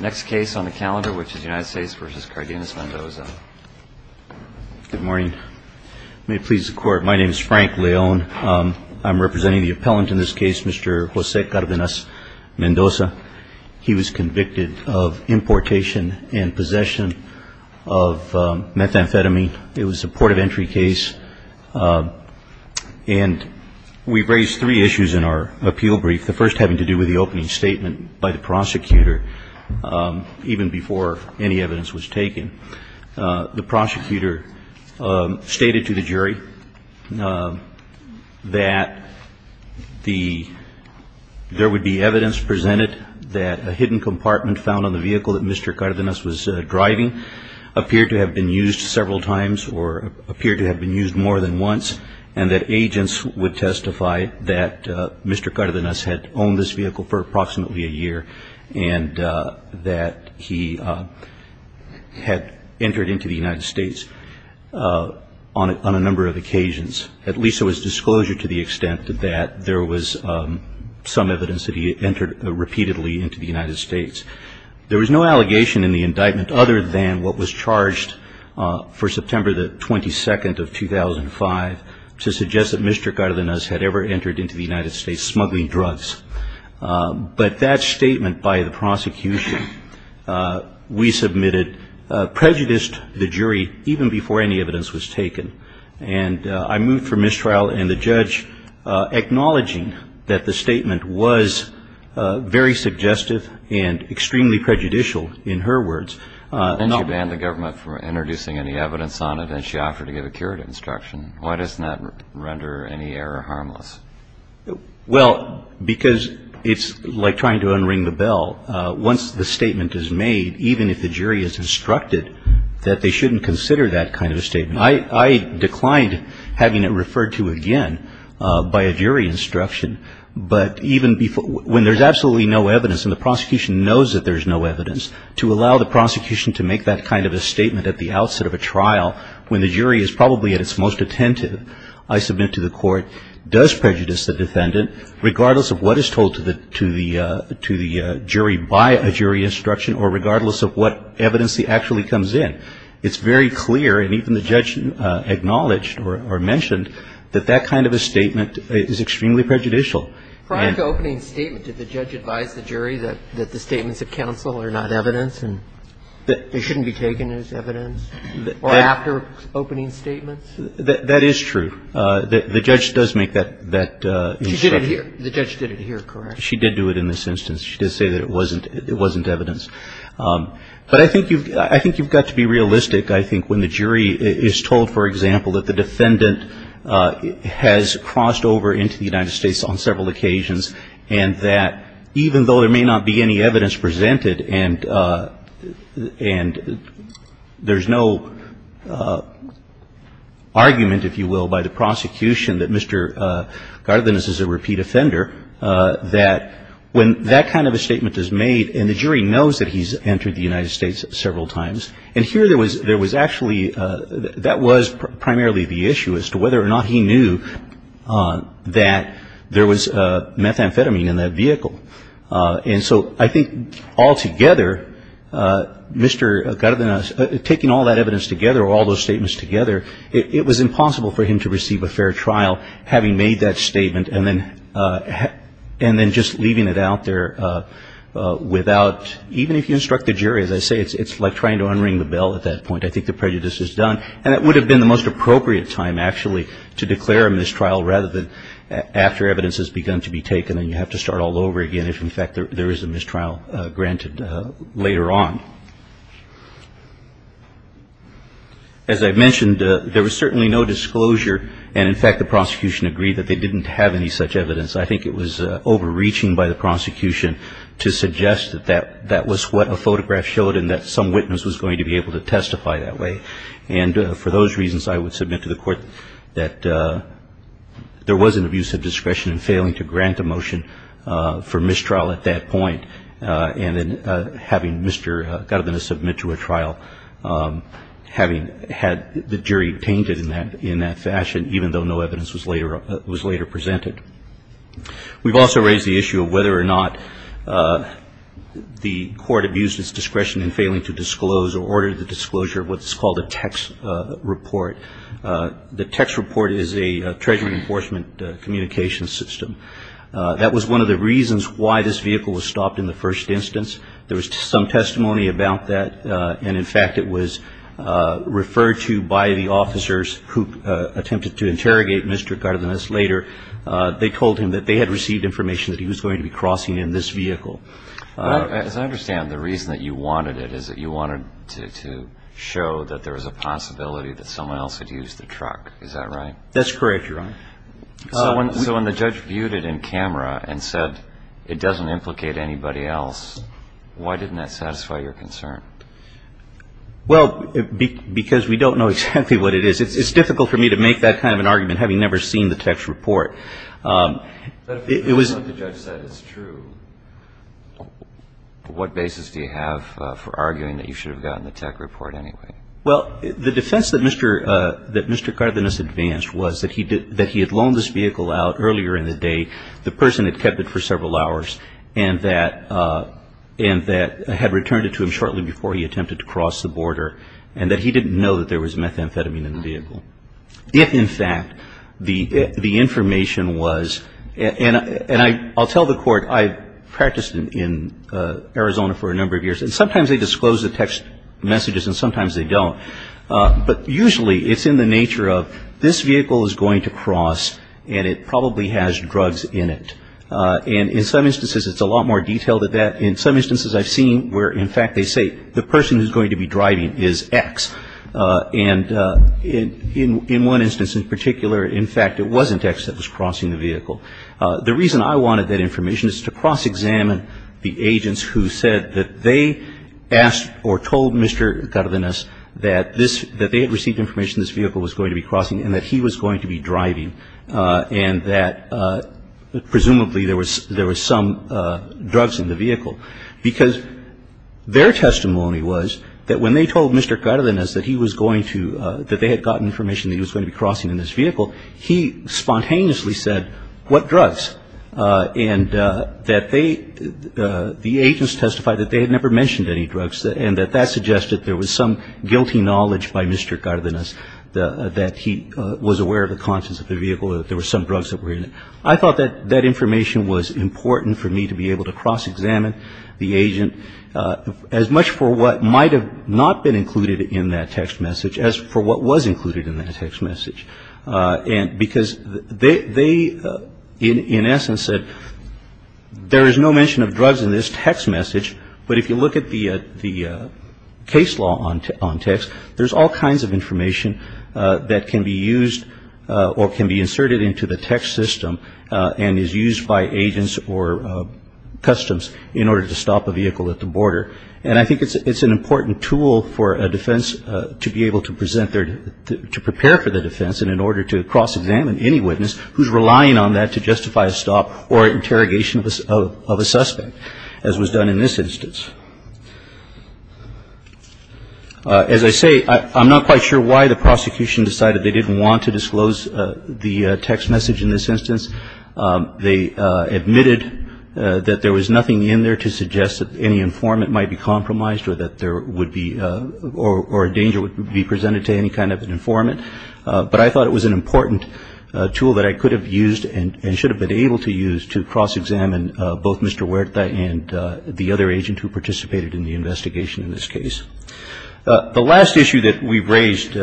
Next case on the calendar, which is United States v. Cardenas-Mendoza. Good morning. May it please the Court, my name is Frank Leone. I'm representing the appellant in this case, Mr. Jose Cardenas-Mendoza. He was convicted of importation and possession of methamphetamine. It was a port of entry case. And we raised three issues in our appeal brief, the first having to do with the opening statement by the prosecutor, even before any evidence was taken. The prosecutor stated to the jury that there would be evidence presented that a hidden compartment found on the vehicle that Mr. Cardenas was driving appeared to have been used several times or appeared to have been used more than once, and that agents would testify that Mr. Cardenas had owned this vehicle for approximately a year, and that he had entered into the United States on a number of occasions. At least there was disclosure to the extent that there was some evidence that he had entered repeatedly into the United States. There was no allegation in the indictment other than what was charged for September the 22nd of 2005 to suggest that Mr. Cardenas had ever entered into the United States smuggling drugs. But that statement by the prosecution we submitted prejudiced the jury even before any evidence was taken. And I move for mistrial and the judge acknowledging that the statement was very suggestive and extremely prejudicial, in her words. And she banned the government from introducing any evidence on it, and she offered to give a curative instruction. Why doesn't that render any error harmless? Well, because it's like trying to unring the bell. Once the statement is made, even if the jury is instructed that they shouldn't consider that kind of a statement. I declined having it referred to again by a jury instruction. But even before – when there's absolutely no evidence and the prosecution knows that there's no evidence, to allow the prosecution to make that kind of a statement at the outset of a trial when the jury is probably at its most attentive, I submit to the Court, does prejudice the defendant regardless of what is told to the jury by a jury instruction or regardless of what evidence actually comes in. It's very clear, and even the judge acknowledged or mentioned, that that kind of a statement is extremely prejudicial. Prior to opening statement, did the judge advise the jury that the statements at counsel are not evidence and that they shouldn't be taken as evidence? Or after opening statements? That is true. The judge does make that instruction. She did it here. The judge did it here, correct? She did do it in this instance. She did say that it wasn't evidence. But I think you've got to be realistic, I think, when the jury is told, for example, that the defendant has crossed over into the United States on several occasions and that even though there may not be any evidence presented and there's no argument, if you will, by the prosecution that Mr. Gardenis is a repeat offender, that when that kind of a statement is made and the jury knows that he's entered the United States several times, and here there was actually that was primarily the issue as to whether or not he knew that there was methamphetamine in that vehicle. And so I think altogether, Mr. Gardenis, taking all that evidence together or all those statements together, it was impossible for him to receive a fair trial having made that statement and then just leaving it out there without, even if you instruct the jury, as I say, it's like trying to unring the bell at that point. I think the prejudice is done. And it would have been the most appropriate time, actually, to declare a mistrial rather than after evidence has begun to be taken and you have to start all over again if, in fact, there is a mistrial granted later on. As I mentioned, there was certainly no disclosure and, in fact, the prosecution agreed that they didn't have any such evidence. I think it was overreaching by the prosecution to think that this was going to be able to testify that way. And for those reasons, I would submit to the Court that there was an abuse of discretion in failing to grant a motion for mistrial at that point and then having Mr. Gardenis submit to a trial, having had the jury tainted in that fashion, even though no evidence was later presented. We've also raised the issue of whether or not the Court abused its discretion in failing to disclose or order the disclosure of what's called a text report. The text report is a Treasury Enforcement Communications System. That was one of the reasons why this vehicle was stopped in the first instance. There was some testimony about that. And, in fact, it was referred to by the officers who attempted to interrogate Mr. Gardenis later. They told him that they had received information that he was going to be crossing in this vehicle. As I understand, the reason that you wanted it is that you wanted to show that there was a possibility that someone else had used the truck. Is that right? That's correct, Your Honor. So when the judge viewed it in camera and said, it doesn't implicate anybody else, why didn't that satisfy your concern? Well, because we don't know exactly what it is. It's difficult for me to make that kind of an argument, having never seen the text report. But if what the judge said is true, what basis do you have for arguing that you should have gotten the text report anyway? Well, the defense that Mr. Gardenis advanced was that he had loaned this vehicle out earlier in the day. The person had kept it for several hours and that had returned it to him shortly before he attempted to cross the border, and that he didn't know that there was methamphetamine in the vehicle. If, in fact, the information was, and I'll tell the court, I practiced in Arizona for a number of years, and sometimes they disclose the text messages and sometimes they don't. But usually it's in the nature of this vehicle is going to cross and it probably has drugs in it. And in some instances it's a lot more detailed than that. In some instances I've seen where, in fact, they say the person who's going to be driving is X. And in one instance in particular, in fact, it wasn't X that was crossing the vehicle. The reason I wanted that information is to cross-examine the agents who said that they asked or told Mr. Gardenis that this, that they had received information this vehicle was going to be crossing and that he was going to be driving, and that presumably there was some drugs in the vehicle. Because their testimony was that when they told Mr. Gardenis that he was going to, that they had gotten information that he was going to be crossing in this vehicle, he spontaneously said, what drugs? And that they, the agents testified that they had never mentioned any drugs and that that suggested there was some guilty knowledge by Mr. Gardenis that he was aware of the contents of the vehicle, that there were some drugs that were in it. I thought that that information was important for me to be able to cross-examine the agent as much for what might have not been included in that text message as for what was included in that text message. And because they, in essence, said there is no mention of drugs in this text message, but if you look at the case law on text, there's all kinds of information that can be used or can be inserted into the text system and is used by agents or customs in order to stop a vehicle at the border. And I think it's an important tool for a defense to be able to present their, to prepare for the defense in order to cross-examine any witness who's relying on that to justify a stop or interrogation of a suspect, as was done in this instance. As I say, I'm not quite sure why the prosecution decided they didn't want to disclose the text message in this instance. They admitted that there was nothing in there to suggest that any informant might be compromised or that there would be or a danger would be presented to any kind of an informant. But I thought it was an important tool that I could have used and should have been able to use to cross-examine both Mr. Huerta and the other agent who participated in the investigation in this case. The last issue that we raised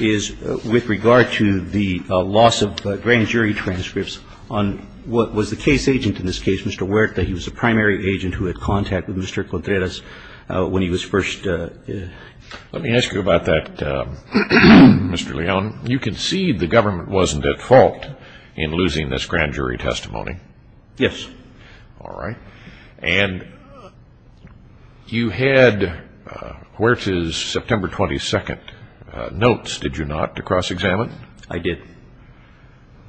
is with regard to the loss of grand jury transcripts on what was the case agent in this case, Mr. Huerta. He was the primary agent who had contact with Mr. Contreras when he was first ---- Let me ask you about that, Mr. Leone. You concede the government wasn't at fault. In losing this grand jury testimony? Yes. All right. And you had Huerta's September 22 notes, did you not, to cross-examine? I did.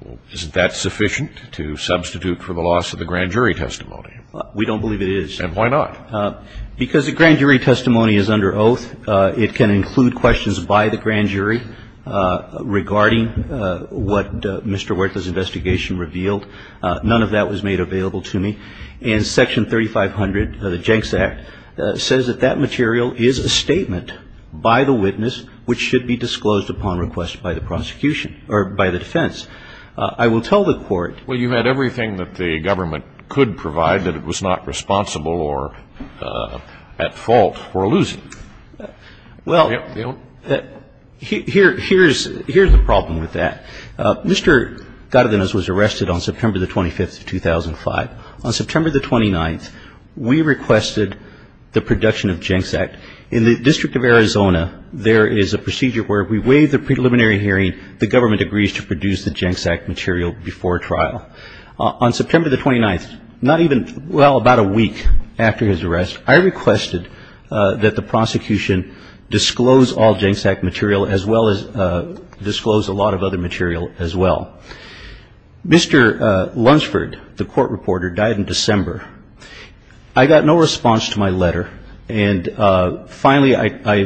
Well, isn't that sufficient to substitute for the loss of the grand jury testimony? We don't believe it is. And why not? Because a grand jury testimony is under oath. It can include questions by the grand jury regarding what Mr. Huerta's investigation revealed. None of that was made available to me. And Section 3500 of the Jenks Act says that that material is a statement by the witness which should be disclosed upon request by the prosecution or by the defense. I will tell the Court ---- Well, you had everything that the government could provide that it was not responsible or at fault for losing. Well, here's the problem with that. Mr. Gardenas was arrested on September 25, 2005. On September 29, we requested the production of Jenks Act. In the District of Arizona, there is a procedure where we waive the preliminary hearing, the government agrees to produce the Jenks Act material before trial. On September 29, not even, well, about a week after his arrest, I requested that the prosecution disclose all Jenks Act material as well as disclose a lot of other material as well. Mr. Lunsford, the court reporter, died in December. I got no response to my letter. And finally, I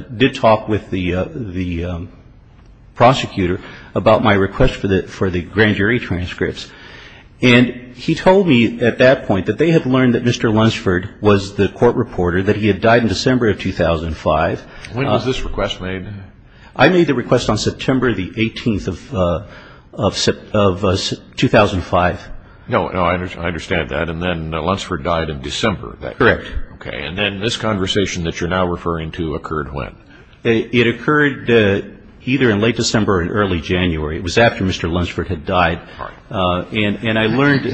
did talk with the prosecutor about my request for the grand jury transcripts. And he told me at that point that they had learned that was the court reporter, that he had died in December of 2005. When was this request made? I made the request on September the 18th of 2005. No, no, I understand that. And then Lunsford died in December. Correct. Okay. And then this conversation that you're now referring to occurred when? It occurred either in late December or in early January. It was after Mr. Lunsford had died. All right. And I learned,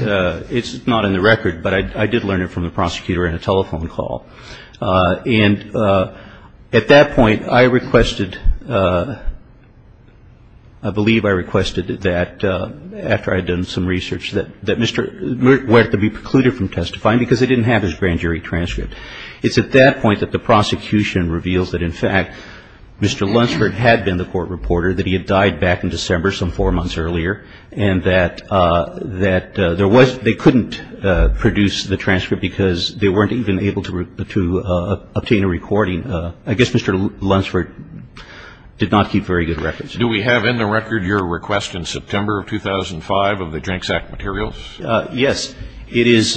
it's not in the record, but I did learn it from the prosecutor in a telephone call. And at that point, I requested, I believe I requested that after I had done some research that Mr. Lunsford were to be precluded from testifying because they didn't have his grand jury transcript. It's at that point that the prosecution reveals that, in fact, Mr. Lunsford had been the court reporter, that he had died back in December some four months earlier, and that there was, they couldn't produce the transcript because they weren't even able to obtain a recording. I guess Mr. Lunsford did not keep very good records. Do we have in the record your request in September of 2005 of the drank sack materials? Yes. It is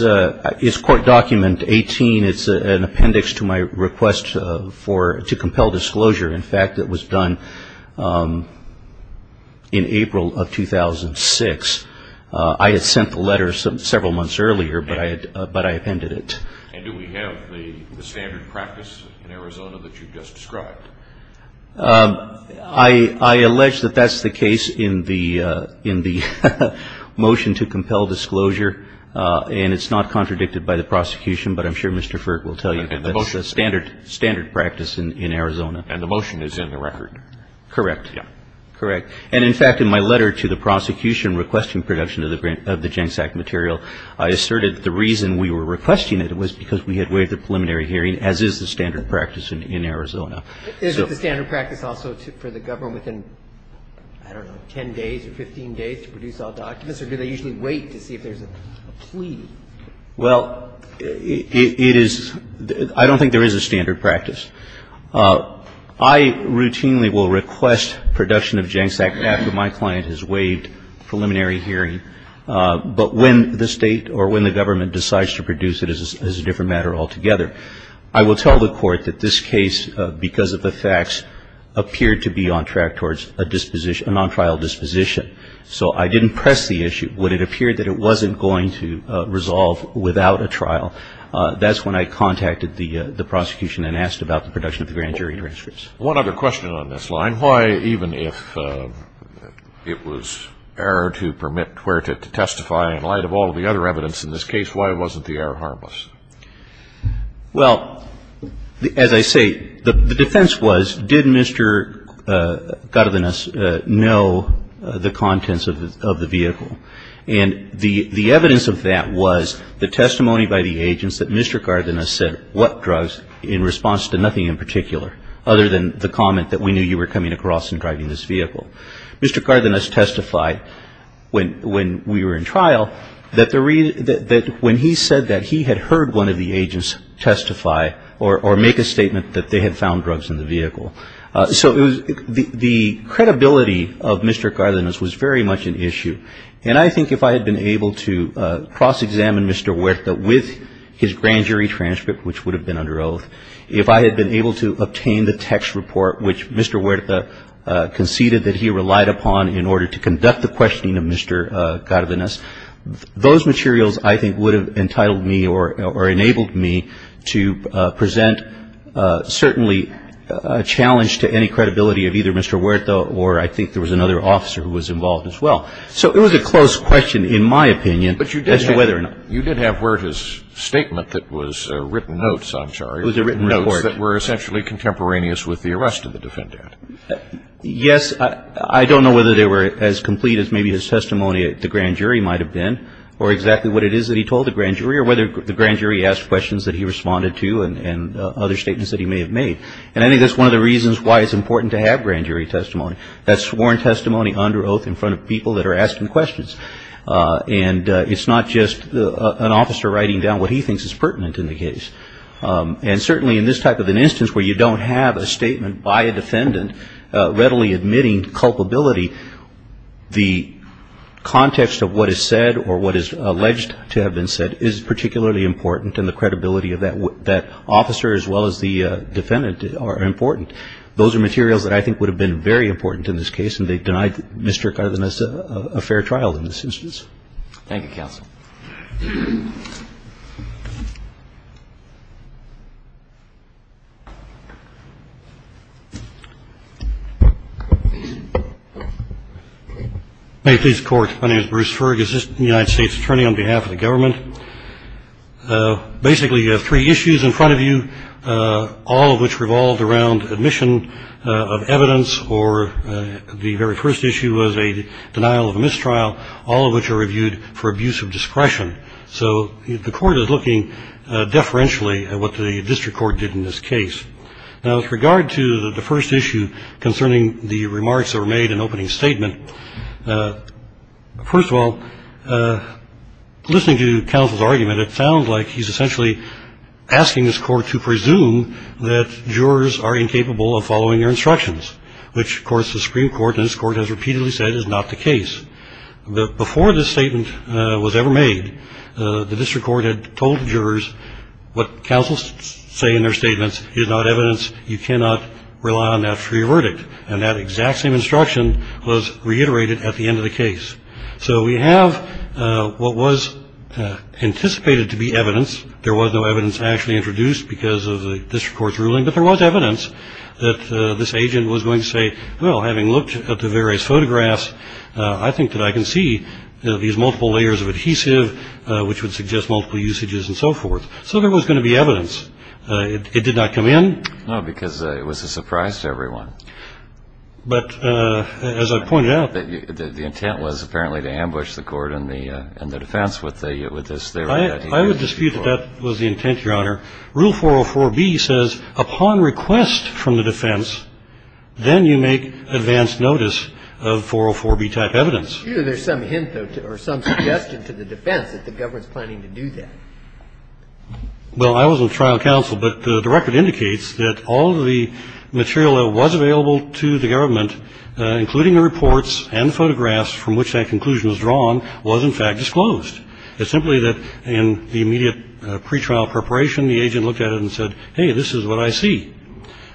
court document 18. It's an appendix to my request to compel disclosure. In fact, it was done in April of 2006. I had sent the letter several months earlier, but I appended it. And do we have the standard practice in Arizona that you've just described? I allege that that's the case in the motion to compel disclosure. And it's not contradicted by the prosecution, but I'm sure Mr. Furt will tell you that's the standard practice in Arizona. And the motion is in the record. Correct. Correct. And in fact, in my letter to the prosecution requesting production of the drank sack material, I asserted that the reason we were requesting it was because we had waived the preliminary hearing, as is the standard practice in Arizona. Is it the standard practice also for the government within, I don't know, 10 days or 15 days to produce all documents, or do they usually wait to see if there's a plea? Well, it is — I don't think there is a standard practice. I routinely will request production of drank sack after my client has waived preliminary hearing. But when the State or when the government decides to produce it as a different matter altogether, I will tell the Court that this case, because of the facts, appeared to be on track towards a disposition — a non-trial disposition. So I didn't press the issue. When it appeared that it wasn't going to resolve without a trial, that's when I contacted the prosecution and asked about the production of the grand jury transcripts. One other question on this line. Why, even if it was error to permit Cuerta to testify in light of all the other evidence in this case, why wasn't the error harmless? Well, as I say, the defense was, did Mr. Gardenas know the contents of the vehicle? And the evidence of that was the testimony by the agents that Mr. Gardenas said what drugs in response to nothing in particular, other than the comment that we knew you were coming across and driving this vehicle. Mr. Gardenas testified when we were in trial, that when he said that, he had heard one of the agents testify or make a statement that they had found drugs in the vehicle. So the credibility of Mr. Gardenas was very much an issue. And I think if I had been able to cross-examine Mr. Cuerta with his grand jury transcript, which would have been under oath, if I had been able to obtain the text report which Mr. Cuerta conceded that he relied upon in order to conduct the questioning of Mr. Gardenas, those materials, I think, would have entitled me or enabled me to present, certainly, a challenge to any credibility of either Mr. Cuerta or I think there was another officer who was involved as well. So it was a close question, in my opinion, as to whether or not. But you did have Cuerta's statement that was written notes, I'm sorry, notes that were essentially contemporaneous with the arrest of the defendant. Yes. I don't know whether they were as complete as maybe his testimony at the grand jury might have been or exactly what it is that he told the grand jury or whether the grand jury asked questions that he responded to and other statements that he may have made. And I think that's one of the reasons why it's important to have grand jury testimony. That's sworn testimony under oath in front of people that are asking questions. And it's not just an officer writing down what he thinks is pertinent in the case. And certainly in this type of an instance where you don't have a statement by a defendant readily admitting culpability, the context of what is said or what is alleged to have been said is particularly important and the credibility of that officer as well as the defendant are important. Those are materials that I think would have been very important in this case. And they denied Mr. Cuerta a fair trial in this instance. Thank you, counsel. May it please the court. My name is Bruce Ferguson, United States attorney on behalf of the government. Basically you have three issues in front of you, all of which revolved around admission of evidence or the very first issue was a denial of a mistrial, all of which are reviewed for abuse of discretion. So the court is looking deferentially at what the district court did in this case. Now, with regard to the first issue concerning the remarks that were made in opening statement, first of all, listening to counsel's argument, it sounds like he's essentially asking this court to presume that jurors are incapable of following their instructions, which, of course, the Supreme Court and this court has repeatedly said is not the case. But before this statement was ever made, the district court had told the jurors what counsel's say in their statements is not evidence. You cannot rely on that for your verdict. And that exact same instruction was reiterated at the end of the case. So we have what was anticipated to be evidence. There was no evidence actually introduced because of the district court's ruling, but there was evidence that this agent was going to say, well, having looked at the various photographs, I think that I can see these photographs. There's a lot of evidence that suggests that this agent was going to say, well, looking at. But this agent was going to say, well, there's multiple layers of adhesive, which would suggest multiple usages and so forth. So there was going to be evidence. It did not come in. No, because it was a surprise to everyone. But as I pointed out the intent was apparently to ambush the court and the defense with this. I would dispute that that was the intent, Your Honor. Rule 404B says upon request from the defense, then you make advance notice of 404B type evidence. There's some hint or some suggestion to the defense that the government's planning to do that. Well, I was on trial counsel, but the record indicates that all of the material that was available to the government, including the reports and photographs from which that conclusion was drawn, was in fact disclosed. It's simply that in the immediate pretrial preparation, the agent looked at it and said, hey, this is what I see.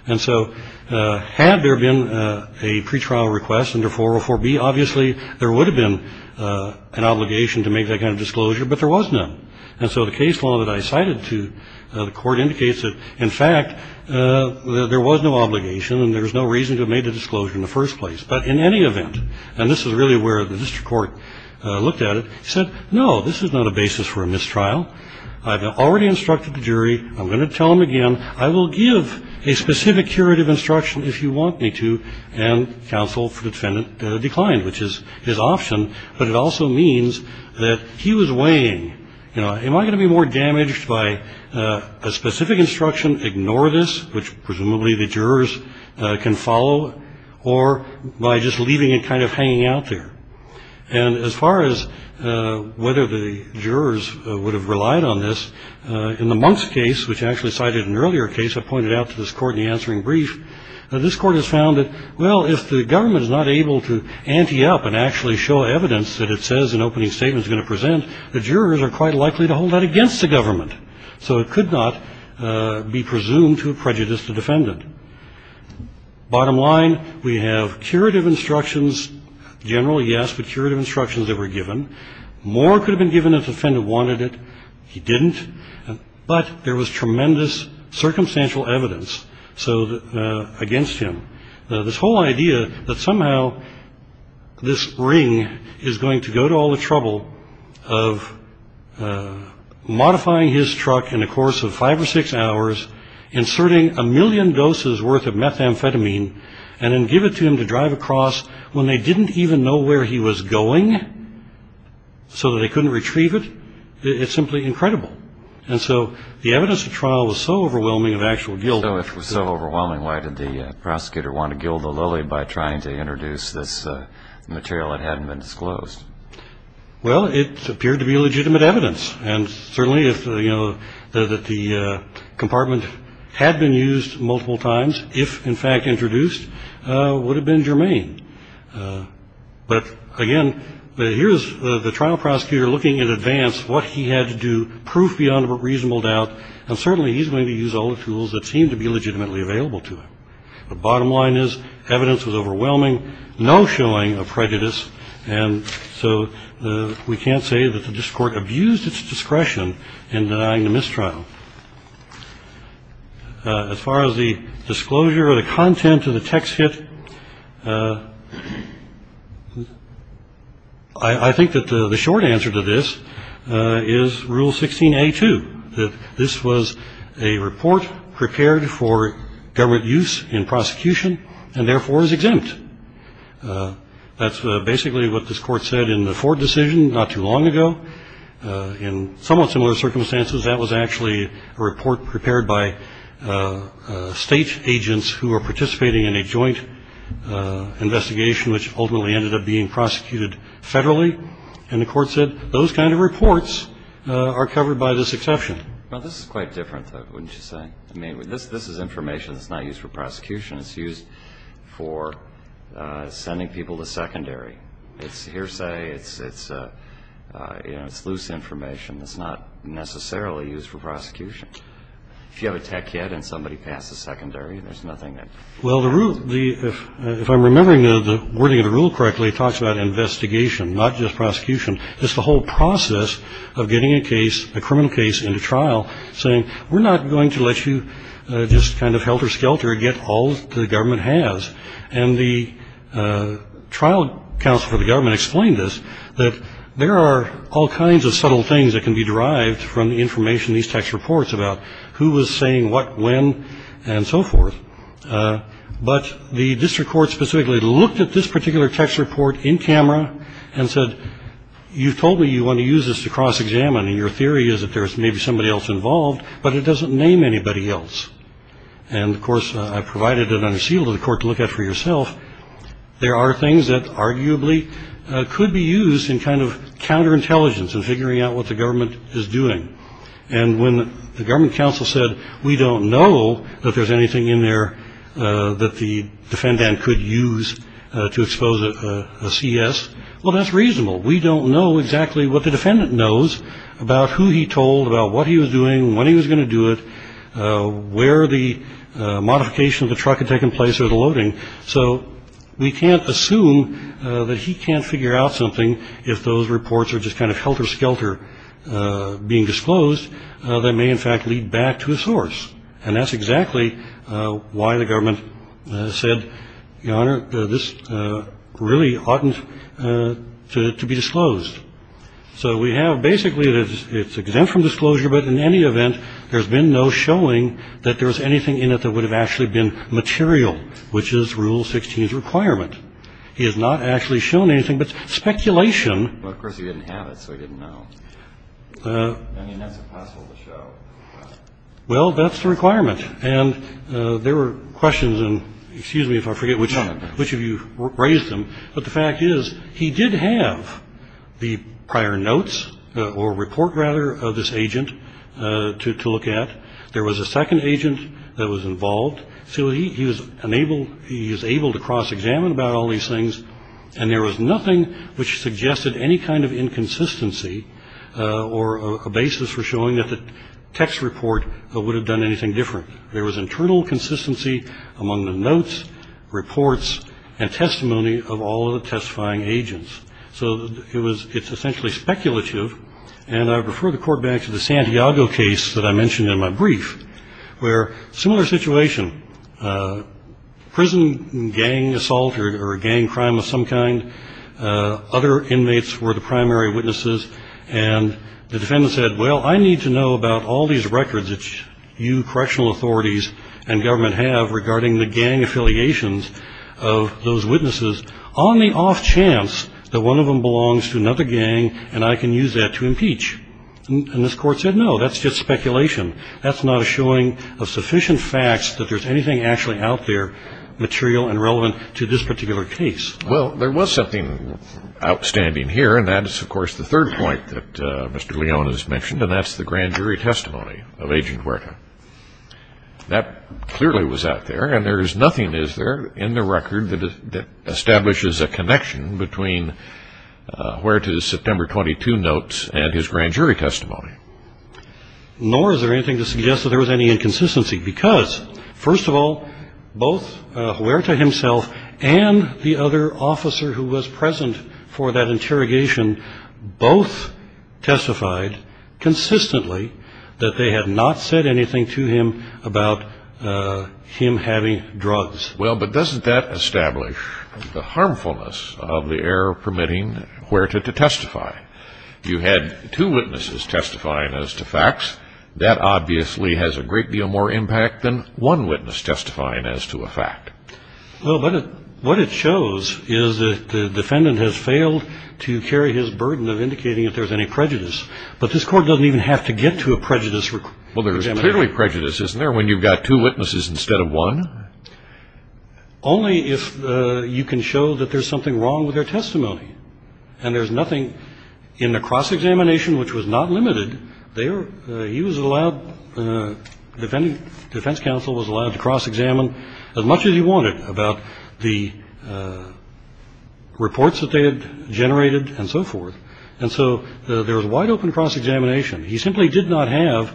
And so had there been a pretrial request under 404B, obviously there would have been an obligation to make that kind of disclosure. But there was none. And so the case law that I cited to the court indicates that, in fact, there was no obligation and there was no reason to have made the disclosure in the first place. But in any event, and this is really where the district court looked at it, said, no, this is not a basis for a mistrial. I've already instructed the jury. I'm going to tell him again. I will give a specific curative instruction if you want me to. And counsel for the defendant declined, which is his option. But it also means that he was weighing, you know, am I going to be more damaged by a specific instruction? Ignore this, which presumably the jurors can follow, or by just leaving it kind of hanging out there. And as far as whether the jurors would have relied on this, in the Monk's case, which actually cited an earlier case I pointed out to this court in the answering brief, this court has found that, well, if the government is not able to ante up and actually show evidence that it says an opening statement is going to present, the jurors are quite likely to hold that against the government. So it could not be presumed to prejudice the defendant. Bottom line, we have curative instructions, generally, yes, but curative instructions that were given. More could have been given if the defendant wanted it. He didn't. But there was tremendous circumstantial evidence against him. This whole idea that somehow this ring is going to go to all the trouble of modifying his truck in the course of five or six hours, inserting a million doses worth of methamphetamine, and then give it to him to drive across when they didn't even know where he was going, so they couldn't retrieve it. It's simply incredible. And so the evidence of trial was so overwhelming of actual guilt. So if it was so overwhelming, why did the prosecutor want to gild the lily by trying to introduce this material that hadn't been disclosed? Well, it appeared to be legitimate evidence. And certainly if you know that the compartment had been used multiple times, if in fact introduced, would have been germane. But again, here is the trial prosecutor looking in advance what he had to do, proof beyond reasonable doubt. And certainly he's going to use all the tools that seem to be legitimately available to him. The bottom line is evidence was overwhelming, no showing of prejudice. And so we can't say that the court abused its discretion in denying the mistrial. As far as the disclosure or the content of the text hit, I think that the short answer to this is Rule 16A-2, that this was a report prepared for government use in prosecution and therefore is exempt. That's basically what this court said in the Ford decision not too long ago. In somewhat similar circumstances, that was actually a report prepared by state agents who were participating in a joint investigation which ultimately ended up being prosecuted federally. And the court said those kind of reports are covered by this exception. Well, this is quite different, though, wouldn't you say? I mean, this is information that's not used for prosecution. It's used for sending people to secondary. It's hearsay. It's loose information that's not necessarily used for prosecution. If you have a tech kit and somebody passes secondary, there's nothing there. Well, if I'm remembering the wording of the rule correctly, it talks about investigation, not just prosecution. It's the whole process of getting a case, a criminal case, into trial, saying we're not going to let you just kind of helter-skelter and get all that the government has. And the trial counsel for the government explained this, that there are all kinds of subtle things that can be derived from the information these text reports about, who was saying what, when, and so forth. But the district court specifically looked at this particular text report in camera and said, you've told me you want to use this to cross-examine, and your theory is that there's maybe somebody else involved, but it doesn't name anybody else. And, of course, I provided an under seal to the court to look at for yourself. There are things that arguably could be used in kind of counterintelligence and figuring out what the government is doing. And when the government counsel said, we don't know that there's anything in there that the defendant could use to expose a CS. Well, that's reasonable. We don't know exactly what the defendant knows about who he told about what he was doing, when he was going to do it, where the modification of the truck had taken place or the loading. So we can't assume that he can't figure out something if those reports are just kind of helter-skelter being disclosed, that may in fact lead back to a source. And that's exactly why the government said, Your Honor, this really oughtn't to be disclosed. So we have basically, it's exempt from disclosure, but in any event, there's been no showing that there's anything in it that would have actually been material, which is Rule 16's requirement. He has not actually shown anything but speculation. But, of course, he didn't have it, so he didn't know. I mean, that's impossible to show. Well, that's the requirement. And there were questions, and excuse me if I forget which of you raised them, but the fact is he did have the prior notes or report, rather, of this agent to look at. There was a second agent that was involved. So he was able to cross-examine about all these things, and there was nothing which suggested any kind of inconsistency or a basis for showing that the text report would have done anything different. There was internal consistency among the notes, reports, and testimony of all of the testifying agents. So it's essentially speculative, and I refer the court back to the Santiago case that I mentioned in my brief, where a similar situation, a prison gang assault or a gang crime of some kind, other inmates were the primary witnesses, and the defendant said, well, I need to know about all these records that you correctional authorities and government have regarding the gang affiliations of those witnesses on the off chance that one of them belongs to another gang and I can use that to impeach. And this court said, no, that's just speculation. That's not a showing of sufficient facts that there's anything actually out there material and relevant to this particular case. Well, there was something outstanding here, and that is, of course, the third point that Mr. Leone has mentioned, and that's the grand jury testimony of Agent Huerta. That clearly was out there, and there is nothing, is there, in the record that establishes a connection between Huerta's September 22 notes and his grand jury testimony? Nor is there anything to suggest that there was any inconsistency, because, first of all, both Huerta himself and the other officer who was present for that interrogation both testified consistently that they had not said anything to him about him having drugs. Well, but doesn't that establish the harmfulness of the error permitting Huerta to testify? You had two witnesses testifying as to facts. That obviously has a great deal more impact than one witness testifying as to a fact. Well, but what it shows is that the defendant has failed to carry his burden of indicating if there's any prejudice, but this court doesn't even have to get to a prejudice. Well, there's clearly prejudice, isn't there, when you've got two witnesses instead of one? Only if you can show that there's something wrong with their testimony, and there's nothing in the cross-examination which was not limited. He was allowed, the defense counsel was allowed to cross-examine as much as he wanted about the reports that they had generated and so forth, and so there was wide open cross-examination. He simply did not have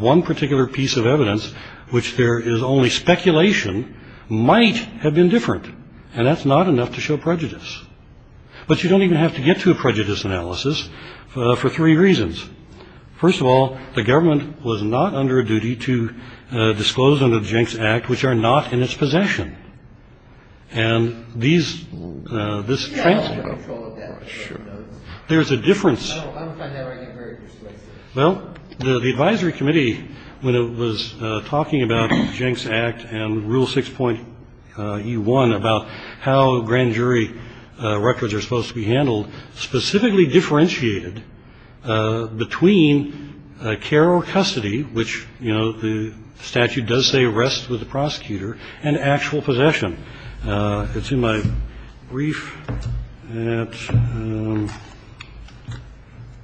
one particular piece of evidence which there is only speculation might have been different, and that's not enough to show prejudice. But you don't even have to get to a prejudice analysis for three reasons. First of all, the government was not under a duty to disclose under the Jenks Act which are not in its possession. And these, this transcript. There's a difference. Well, the advisory committee, when it was talking about Jenks Act and Rule 6.E1 about how grand jury records are supposed to be handled, specifically differentiated between care or custody, which, you know, the statute does say rests with the prosecutor, and actual possession. It's in my brief at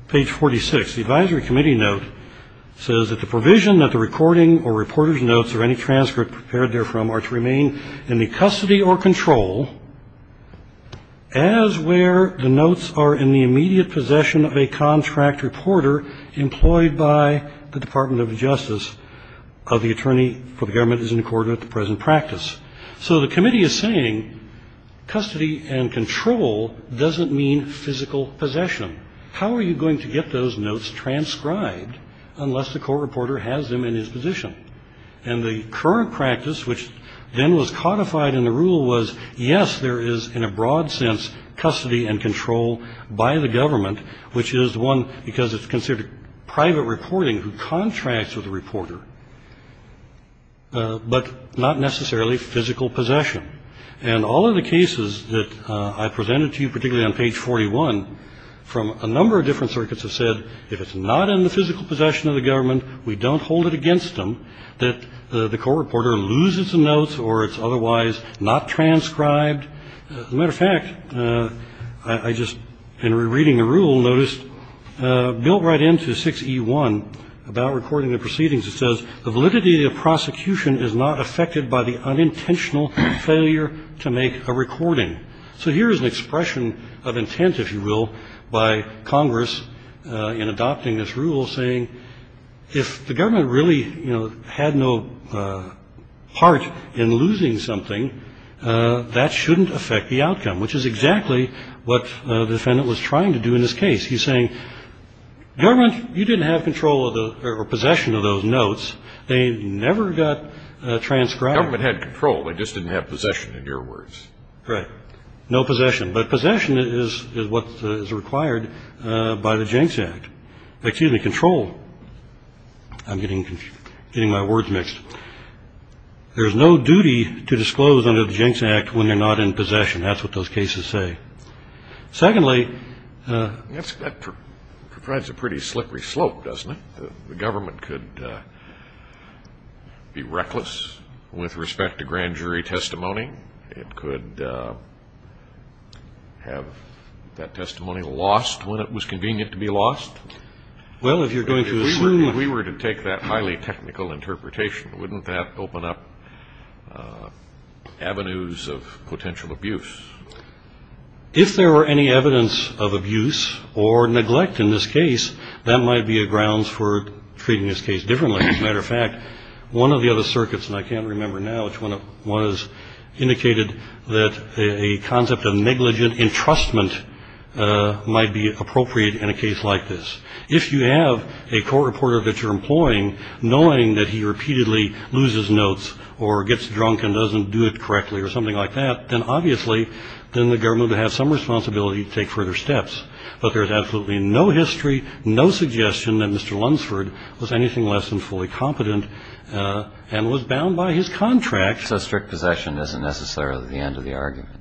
page 46. The advisory committee note says that the provision that the recording or reporter's notes or any transcript prepared therefrom are to remain in the custody or control as where the notes are in the immediate possession of a contract reporter employed by the Department of Justice. The attorney for the government is in accord with the present practice. So the committee is saying custody and control doesn't mean physical possession. How are you going to get those notes transcribed unless the court reporter has them in his position? And the current practice, which then was codified in the rule, was, yes, there is, in a broad sense, custody and control by the government, because it's considered private reporting who contracts with the reporter, but not necessarily physical possession. And all of the cases that I presented to you, particularly on page 41, from a number of different circuits, have said if it's not in the physical possession of the government, we don't hold it against them that the court reporter loses the notes or it's otherwise not transcribed. As a matter of fact, I just, in reading the rule, noticed built right into 6E1 about recording the proceedings, it says the validity of the prosecution is not affected by the unintentional failure to make a recording. So here is an expression of intent, if you will, by Congress in adopting this rule, saying, if the government really, you know, had no part in losing something, that shouldn't affect the outcome, which is exactly what the defendant was trying to do in this case. He's saying, government, you didn't have control or possession of those notes. They never got transcribed. Government had control. They just didn't have possession, in your words. Right. No possession. But possession is what is required by the Jenks Act. Excuse me, control. I'm getting my words mixed. There's no duty to disclose under the Jenks Act when you're not in possession. That's what those cases say. Secondly, that provides a pretty slippery slope, doesn't it? The government could be reckless with respect to grand jury testimony. It could have that testimony lost when it was convenient to be lost. Well, if you're going to assume. If we were to take that highly technical interpretation, wouldn't that open up avenues of potential abuse? If there were any evidence of abuse or neglect in this case, that might be a grounds for treating this case differently. As a matter of fact, one of the other circuits, and I can't remember now which one it was, indicated that a concept of negligent entrustment might be appropriate in a case like this. If you have a court reporter that you're employing, knowing that he repeatedly loses notes or gets drunk and doesn't do it correctly, or something like that, then obviously then the government would have some responsibility to take further steps. But there's absolutely no history, no suggestion that Mr. Lunsford was anything less than fully competent and was bound by his contract. So strict possession isn't necessarily the end of the argument?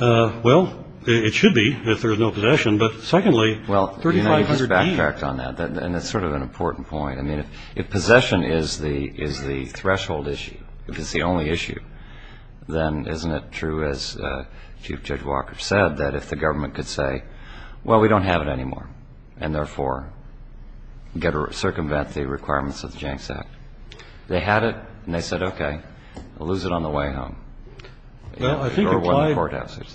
Well, it should be if there's no possession. But secondly, 3,500 years. Well, you know, you just backtracked on that, and it's sort of an important point. I mean, if possession is the threshold issue, if it's the only issue, then isn't it true, as Chief Judge Walker said, that if the government could say, well, we don't have it anymore, and therefore circumvent the requirements of the Janks Act, they had it and they said, okay, we'll lose it on the way home. Well, I think implied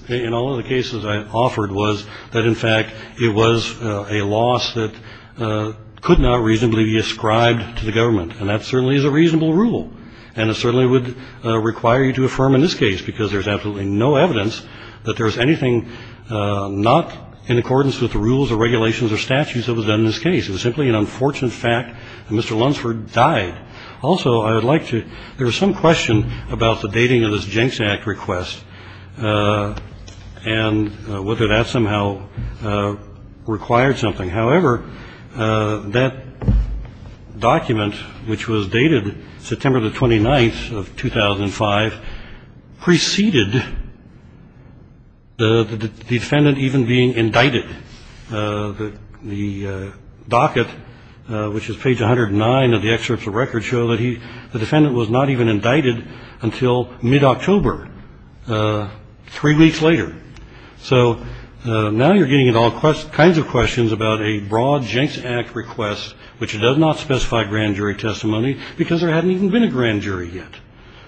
in all of the cases I offered was that, in fact, it was a loss that could not reasonably be ascribed to the government, and that certainly is a reasonable rule, and it certainly would require you to affirm in this case, because there's absolutely no evidence that there's anything not in accordance with the rules or regulations or statutes that was done in this case. It was simply an unfortunate fact that Mr. Lunsford died. Also, I would like to ‑‑ there was some question about the dating of this Janks Act request and whether that somehow required something. However, that document, which was dated September the 29th of 2005, preceded the defendant even being indicted. The docket, which is page 109 of the excerpts of records, show that the defendant was not even indicted until mid‑October, three weeks later. So now you're getting all kinds of questions about a broad Janks Act request, which does not specify grand jury testimony because there hadn't even been a grand jury yet.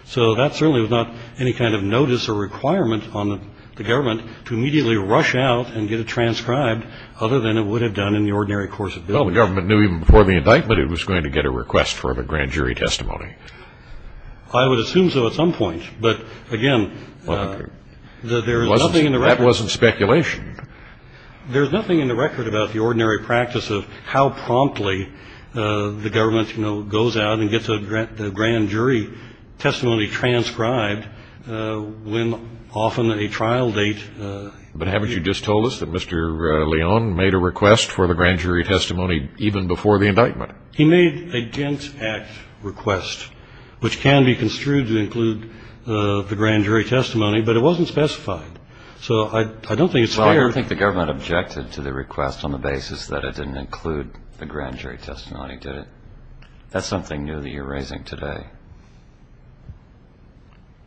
So that certainly was not any kind of notice or requirement on the government to immediately rush out and get it transcribed, other than it would have done in the ordinary course of business. Well, the government knew even before the indictment it was going to get a request for a grand jury testimony. I would assume so at some point. But, again, there is nothing in the record. That wasn't speculation. There's nothing in the record about the ordinary practice of how promptly the government, you know, goes out and gets a grand jury testimony transcribed when often a trial date ‑‑ But haven't you just told us that Mr. Leon made a request for the grand jury testimony even before the indictment? He made a Janks Act request, which can be construed to include the grand jury testimony, but it wasn't specified. So I don't think it's fair. Well, I don't think the government objected to the request on the basis that it didn't include the grand jury testimony, did it? That's something new that you're raising today.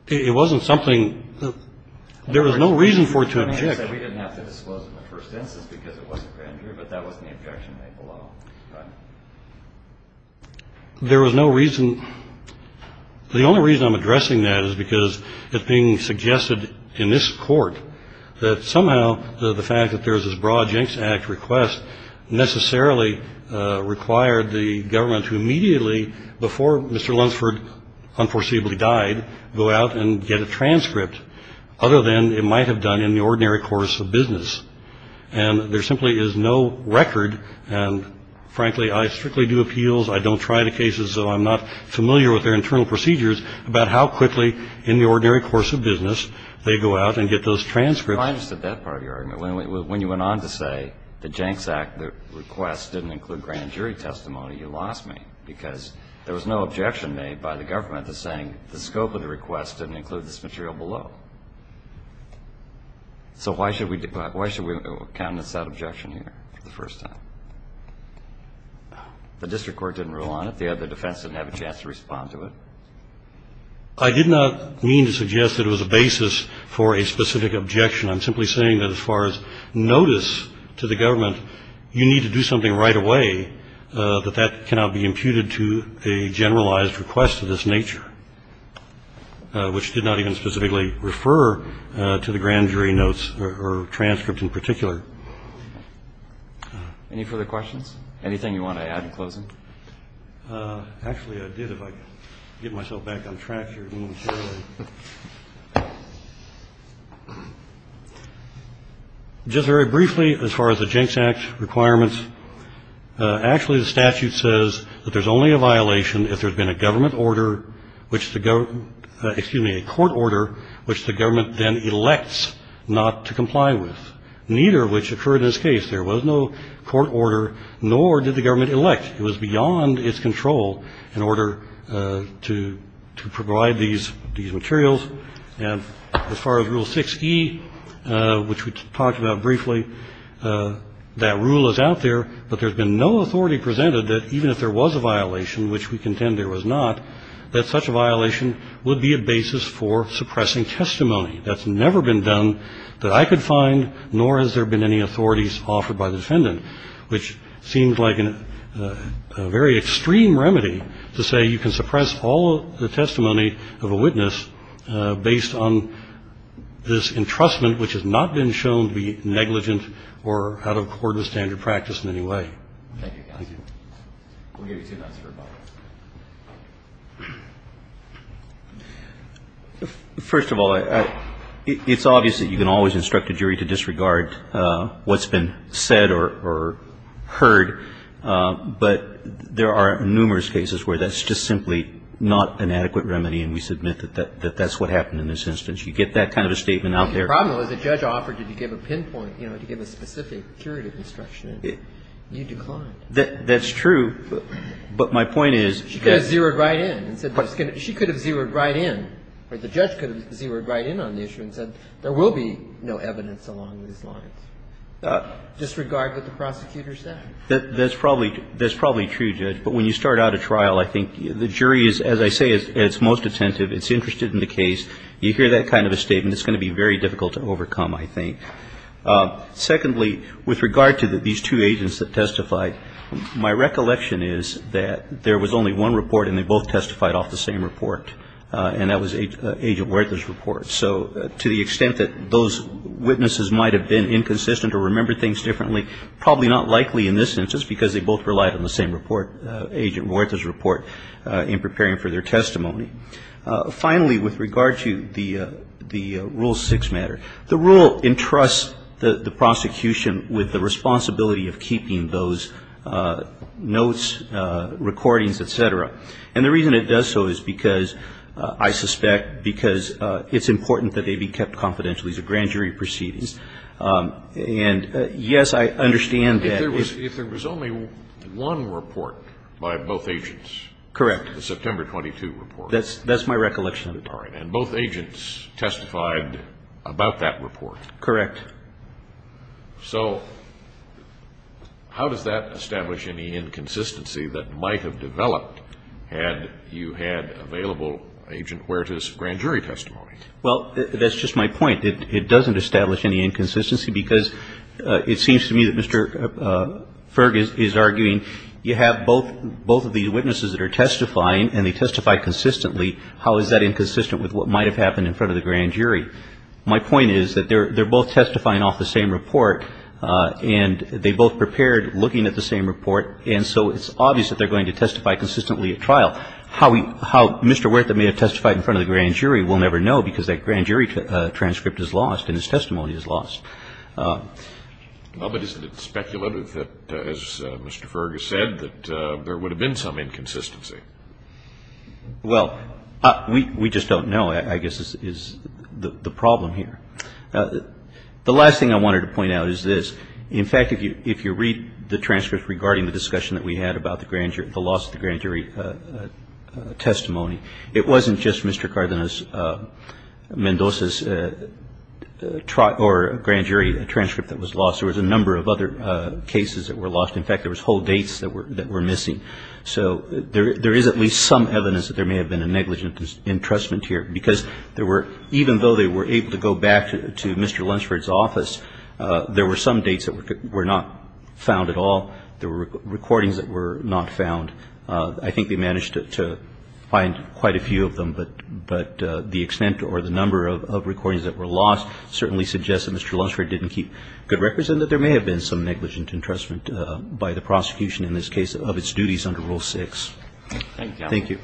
It wasn't something that there was no reason for it to object. We didn't have to disclose it in the first instance because it was a grand jury, but that wasn't the objection made below. There was no reason. The only reason I'm addressing that is because it's being suggested in this court that somehow the fact that there is this broad Janks Act request necessarily required the government to immediately, before Mr. Lunsford unforeseeably died, go out and get a transcript, other than it might have done in the ordinary course of business. And there simply is no record, and frankly, I strictly do appeals, I don't try the cases, so I'm not familiar with their internal procedures about how quickly in the ordinary course of business they go out and get those transcripts. Well, I understood that part of your argument. When you went on to say the Janks Act request didn't include grand jury testimony, you lost me, because there was no objection made by the government to saying the scope of the request didn't include this material below. So why should we countenance that objection here for the first time? The district court didn't rule on it. The other defense didn't have a chance to respond to it. I did not mean to suggest that it was a basis for a specific objection. I'm simply saying that as far as notice to the government, you need to do something right away, that that cannot be imputed to a generalized request of this nature, which did not even specifically refer to the grand jury notes or transcript in particular. Any further questions? Anything you want to add in closing? Actually, I did, if I can get myself back on track here. Just very briefly, as far as the Janks Act requirements, actually the statute says that there's only a violation if there's been a government order, which the government, excuse me, a court order, which the government then elects not to comply with, neither of which occurred in this case. There was no court order, nor did the government elect. It was beyond its control in order to provide these materials. And as far as Rule 6E, which we talked about briefly, that rule is out there, but there's been no authority presented that even if there was a violation, which we contend there was not, that such a violation would be a basis for suppressing testimony. That's never been done that I could find, nor has there been any authorities offered by the defendant, which seems like a very extreme remedy to say you can suppress all the testimony of a witness based on this entrustment, which has not been shown to be negligent or out of accordance with standard practice in any way. Thank you, counsel. We'll give you two minutes for rebuttal. First of all, it's obvious that you can always instruct a jury to disregard what's been said or heard, but there are numerous cases where that's just simply not an adequate remedy, and we submit that that's what happened in this instance. You get that kind of a statement out there. The problem was the judge offered to give a pinpoint, you know, to give a specific curative instruction. You declined. That's true. But my point is you could have zeroed right in. She could have zeroed right in, or the judge could have zeroed right in on the issue and said there will be no evidence along these lines. Disregard what the prosecutor said? That's probably true, Judge. But when you start out a trial, I think the jury is, as I say, is most attentive. It's interested in the case. You hear that kind of a statement, it's going to be very difficult to overcome, I think. Secondly, with regard to these two agents that testified, my recollection is that there was only one report and they both testified off the same report, and that was Agent Werther's report. So to the extent that those witnesses might have been inconsistent or remembered things differently, probably not likely in this instance because they both relied on the same report, Agent Werther's report, in preparing for their testimony. Finally, with regard to the Rule 6 matter, the rule entrusts the prosecution with the responsibility of keeping those notes, recordings, et cetera. And the reason it does so is because, I suspect, because it's important that they be kept confidential. These are grand jury proceedings. And, yes, I understand that. If there was only one report by both agents. Correct. The September 22 report. That's my recollection of it. All right. And both agents testified about that report. Correct. So how does that establish any inconsistency that might have developed had you had available Agent Werther's grand jury testimony? Well, that's just my point. It doesn't establish any inconsistency because it seems to me that Mr. Ferg is arguing, you have both of these witnesses that are testifying and they testify consistently. How is that inconsistent with what might have happened in front of the grand jury? My point is that they're both testifying off the same report. And they both prepared looking at the same report. And so it's obvious that they're going to testify consistently at trial. How Mr. Werther may have testified in front of the grand jury, we'll never know because that grand jury transcript is lost and his testimony is lost. Well, but isn't it speculative that, as Mr. Ferg has said, that there would have been some inconsistency? Well, we just don't know, I guess, is the problem here. The last thing I wanted to point out is this. In fact, if you read the transcript regarding the discussion that we had about the loss of the grand jury testimony, it wasn't just Mr. Cardenas Mendoza's grand jury transcript that was lost. There was a number of other cases that were lost. In fact, there was whole dates that were missing. So there is at least some evidence that there may have been a negligent entrustment here. Because there were, even though they were able to go back to Mr. Lunsford's office, there were some dates that were not found at all. There were recordings that were not found. I think they managed to find quite a few of them. But the extent or the number of recordings that were lost certainly suggests that Mr. Lunsford didn't keep good records and that there may have been some negligent entrustment by the prosecution in this case of its duties under Rule 6. Thank you.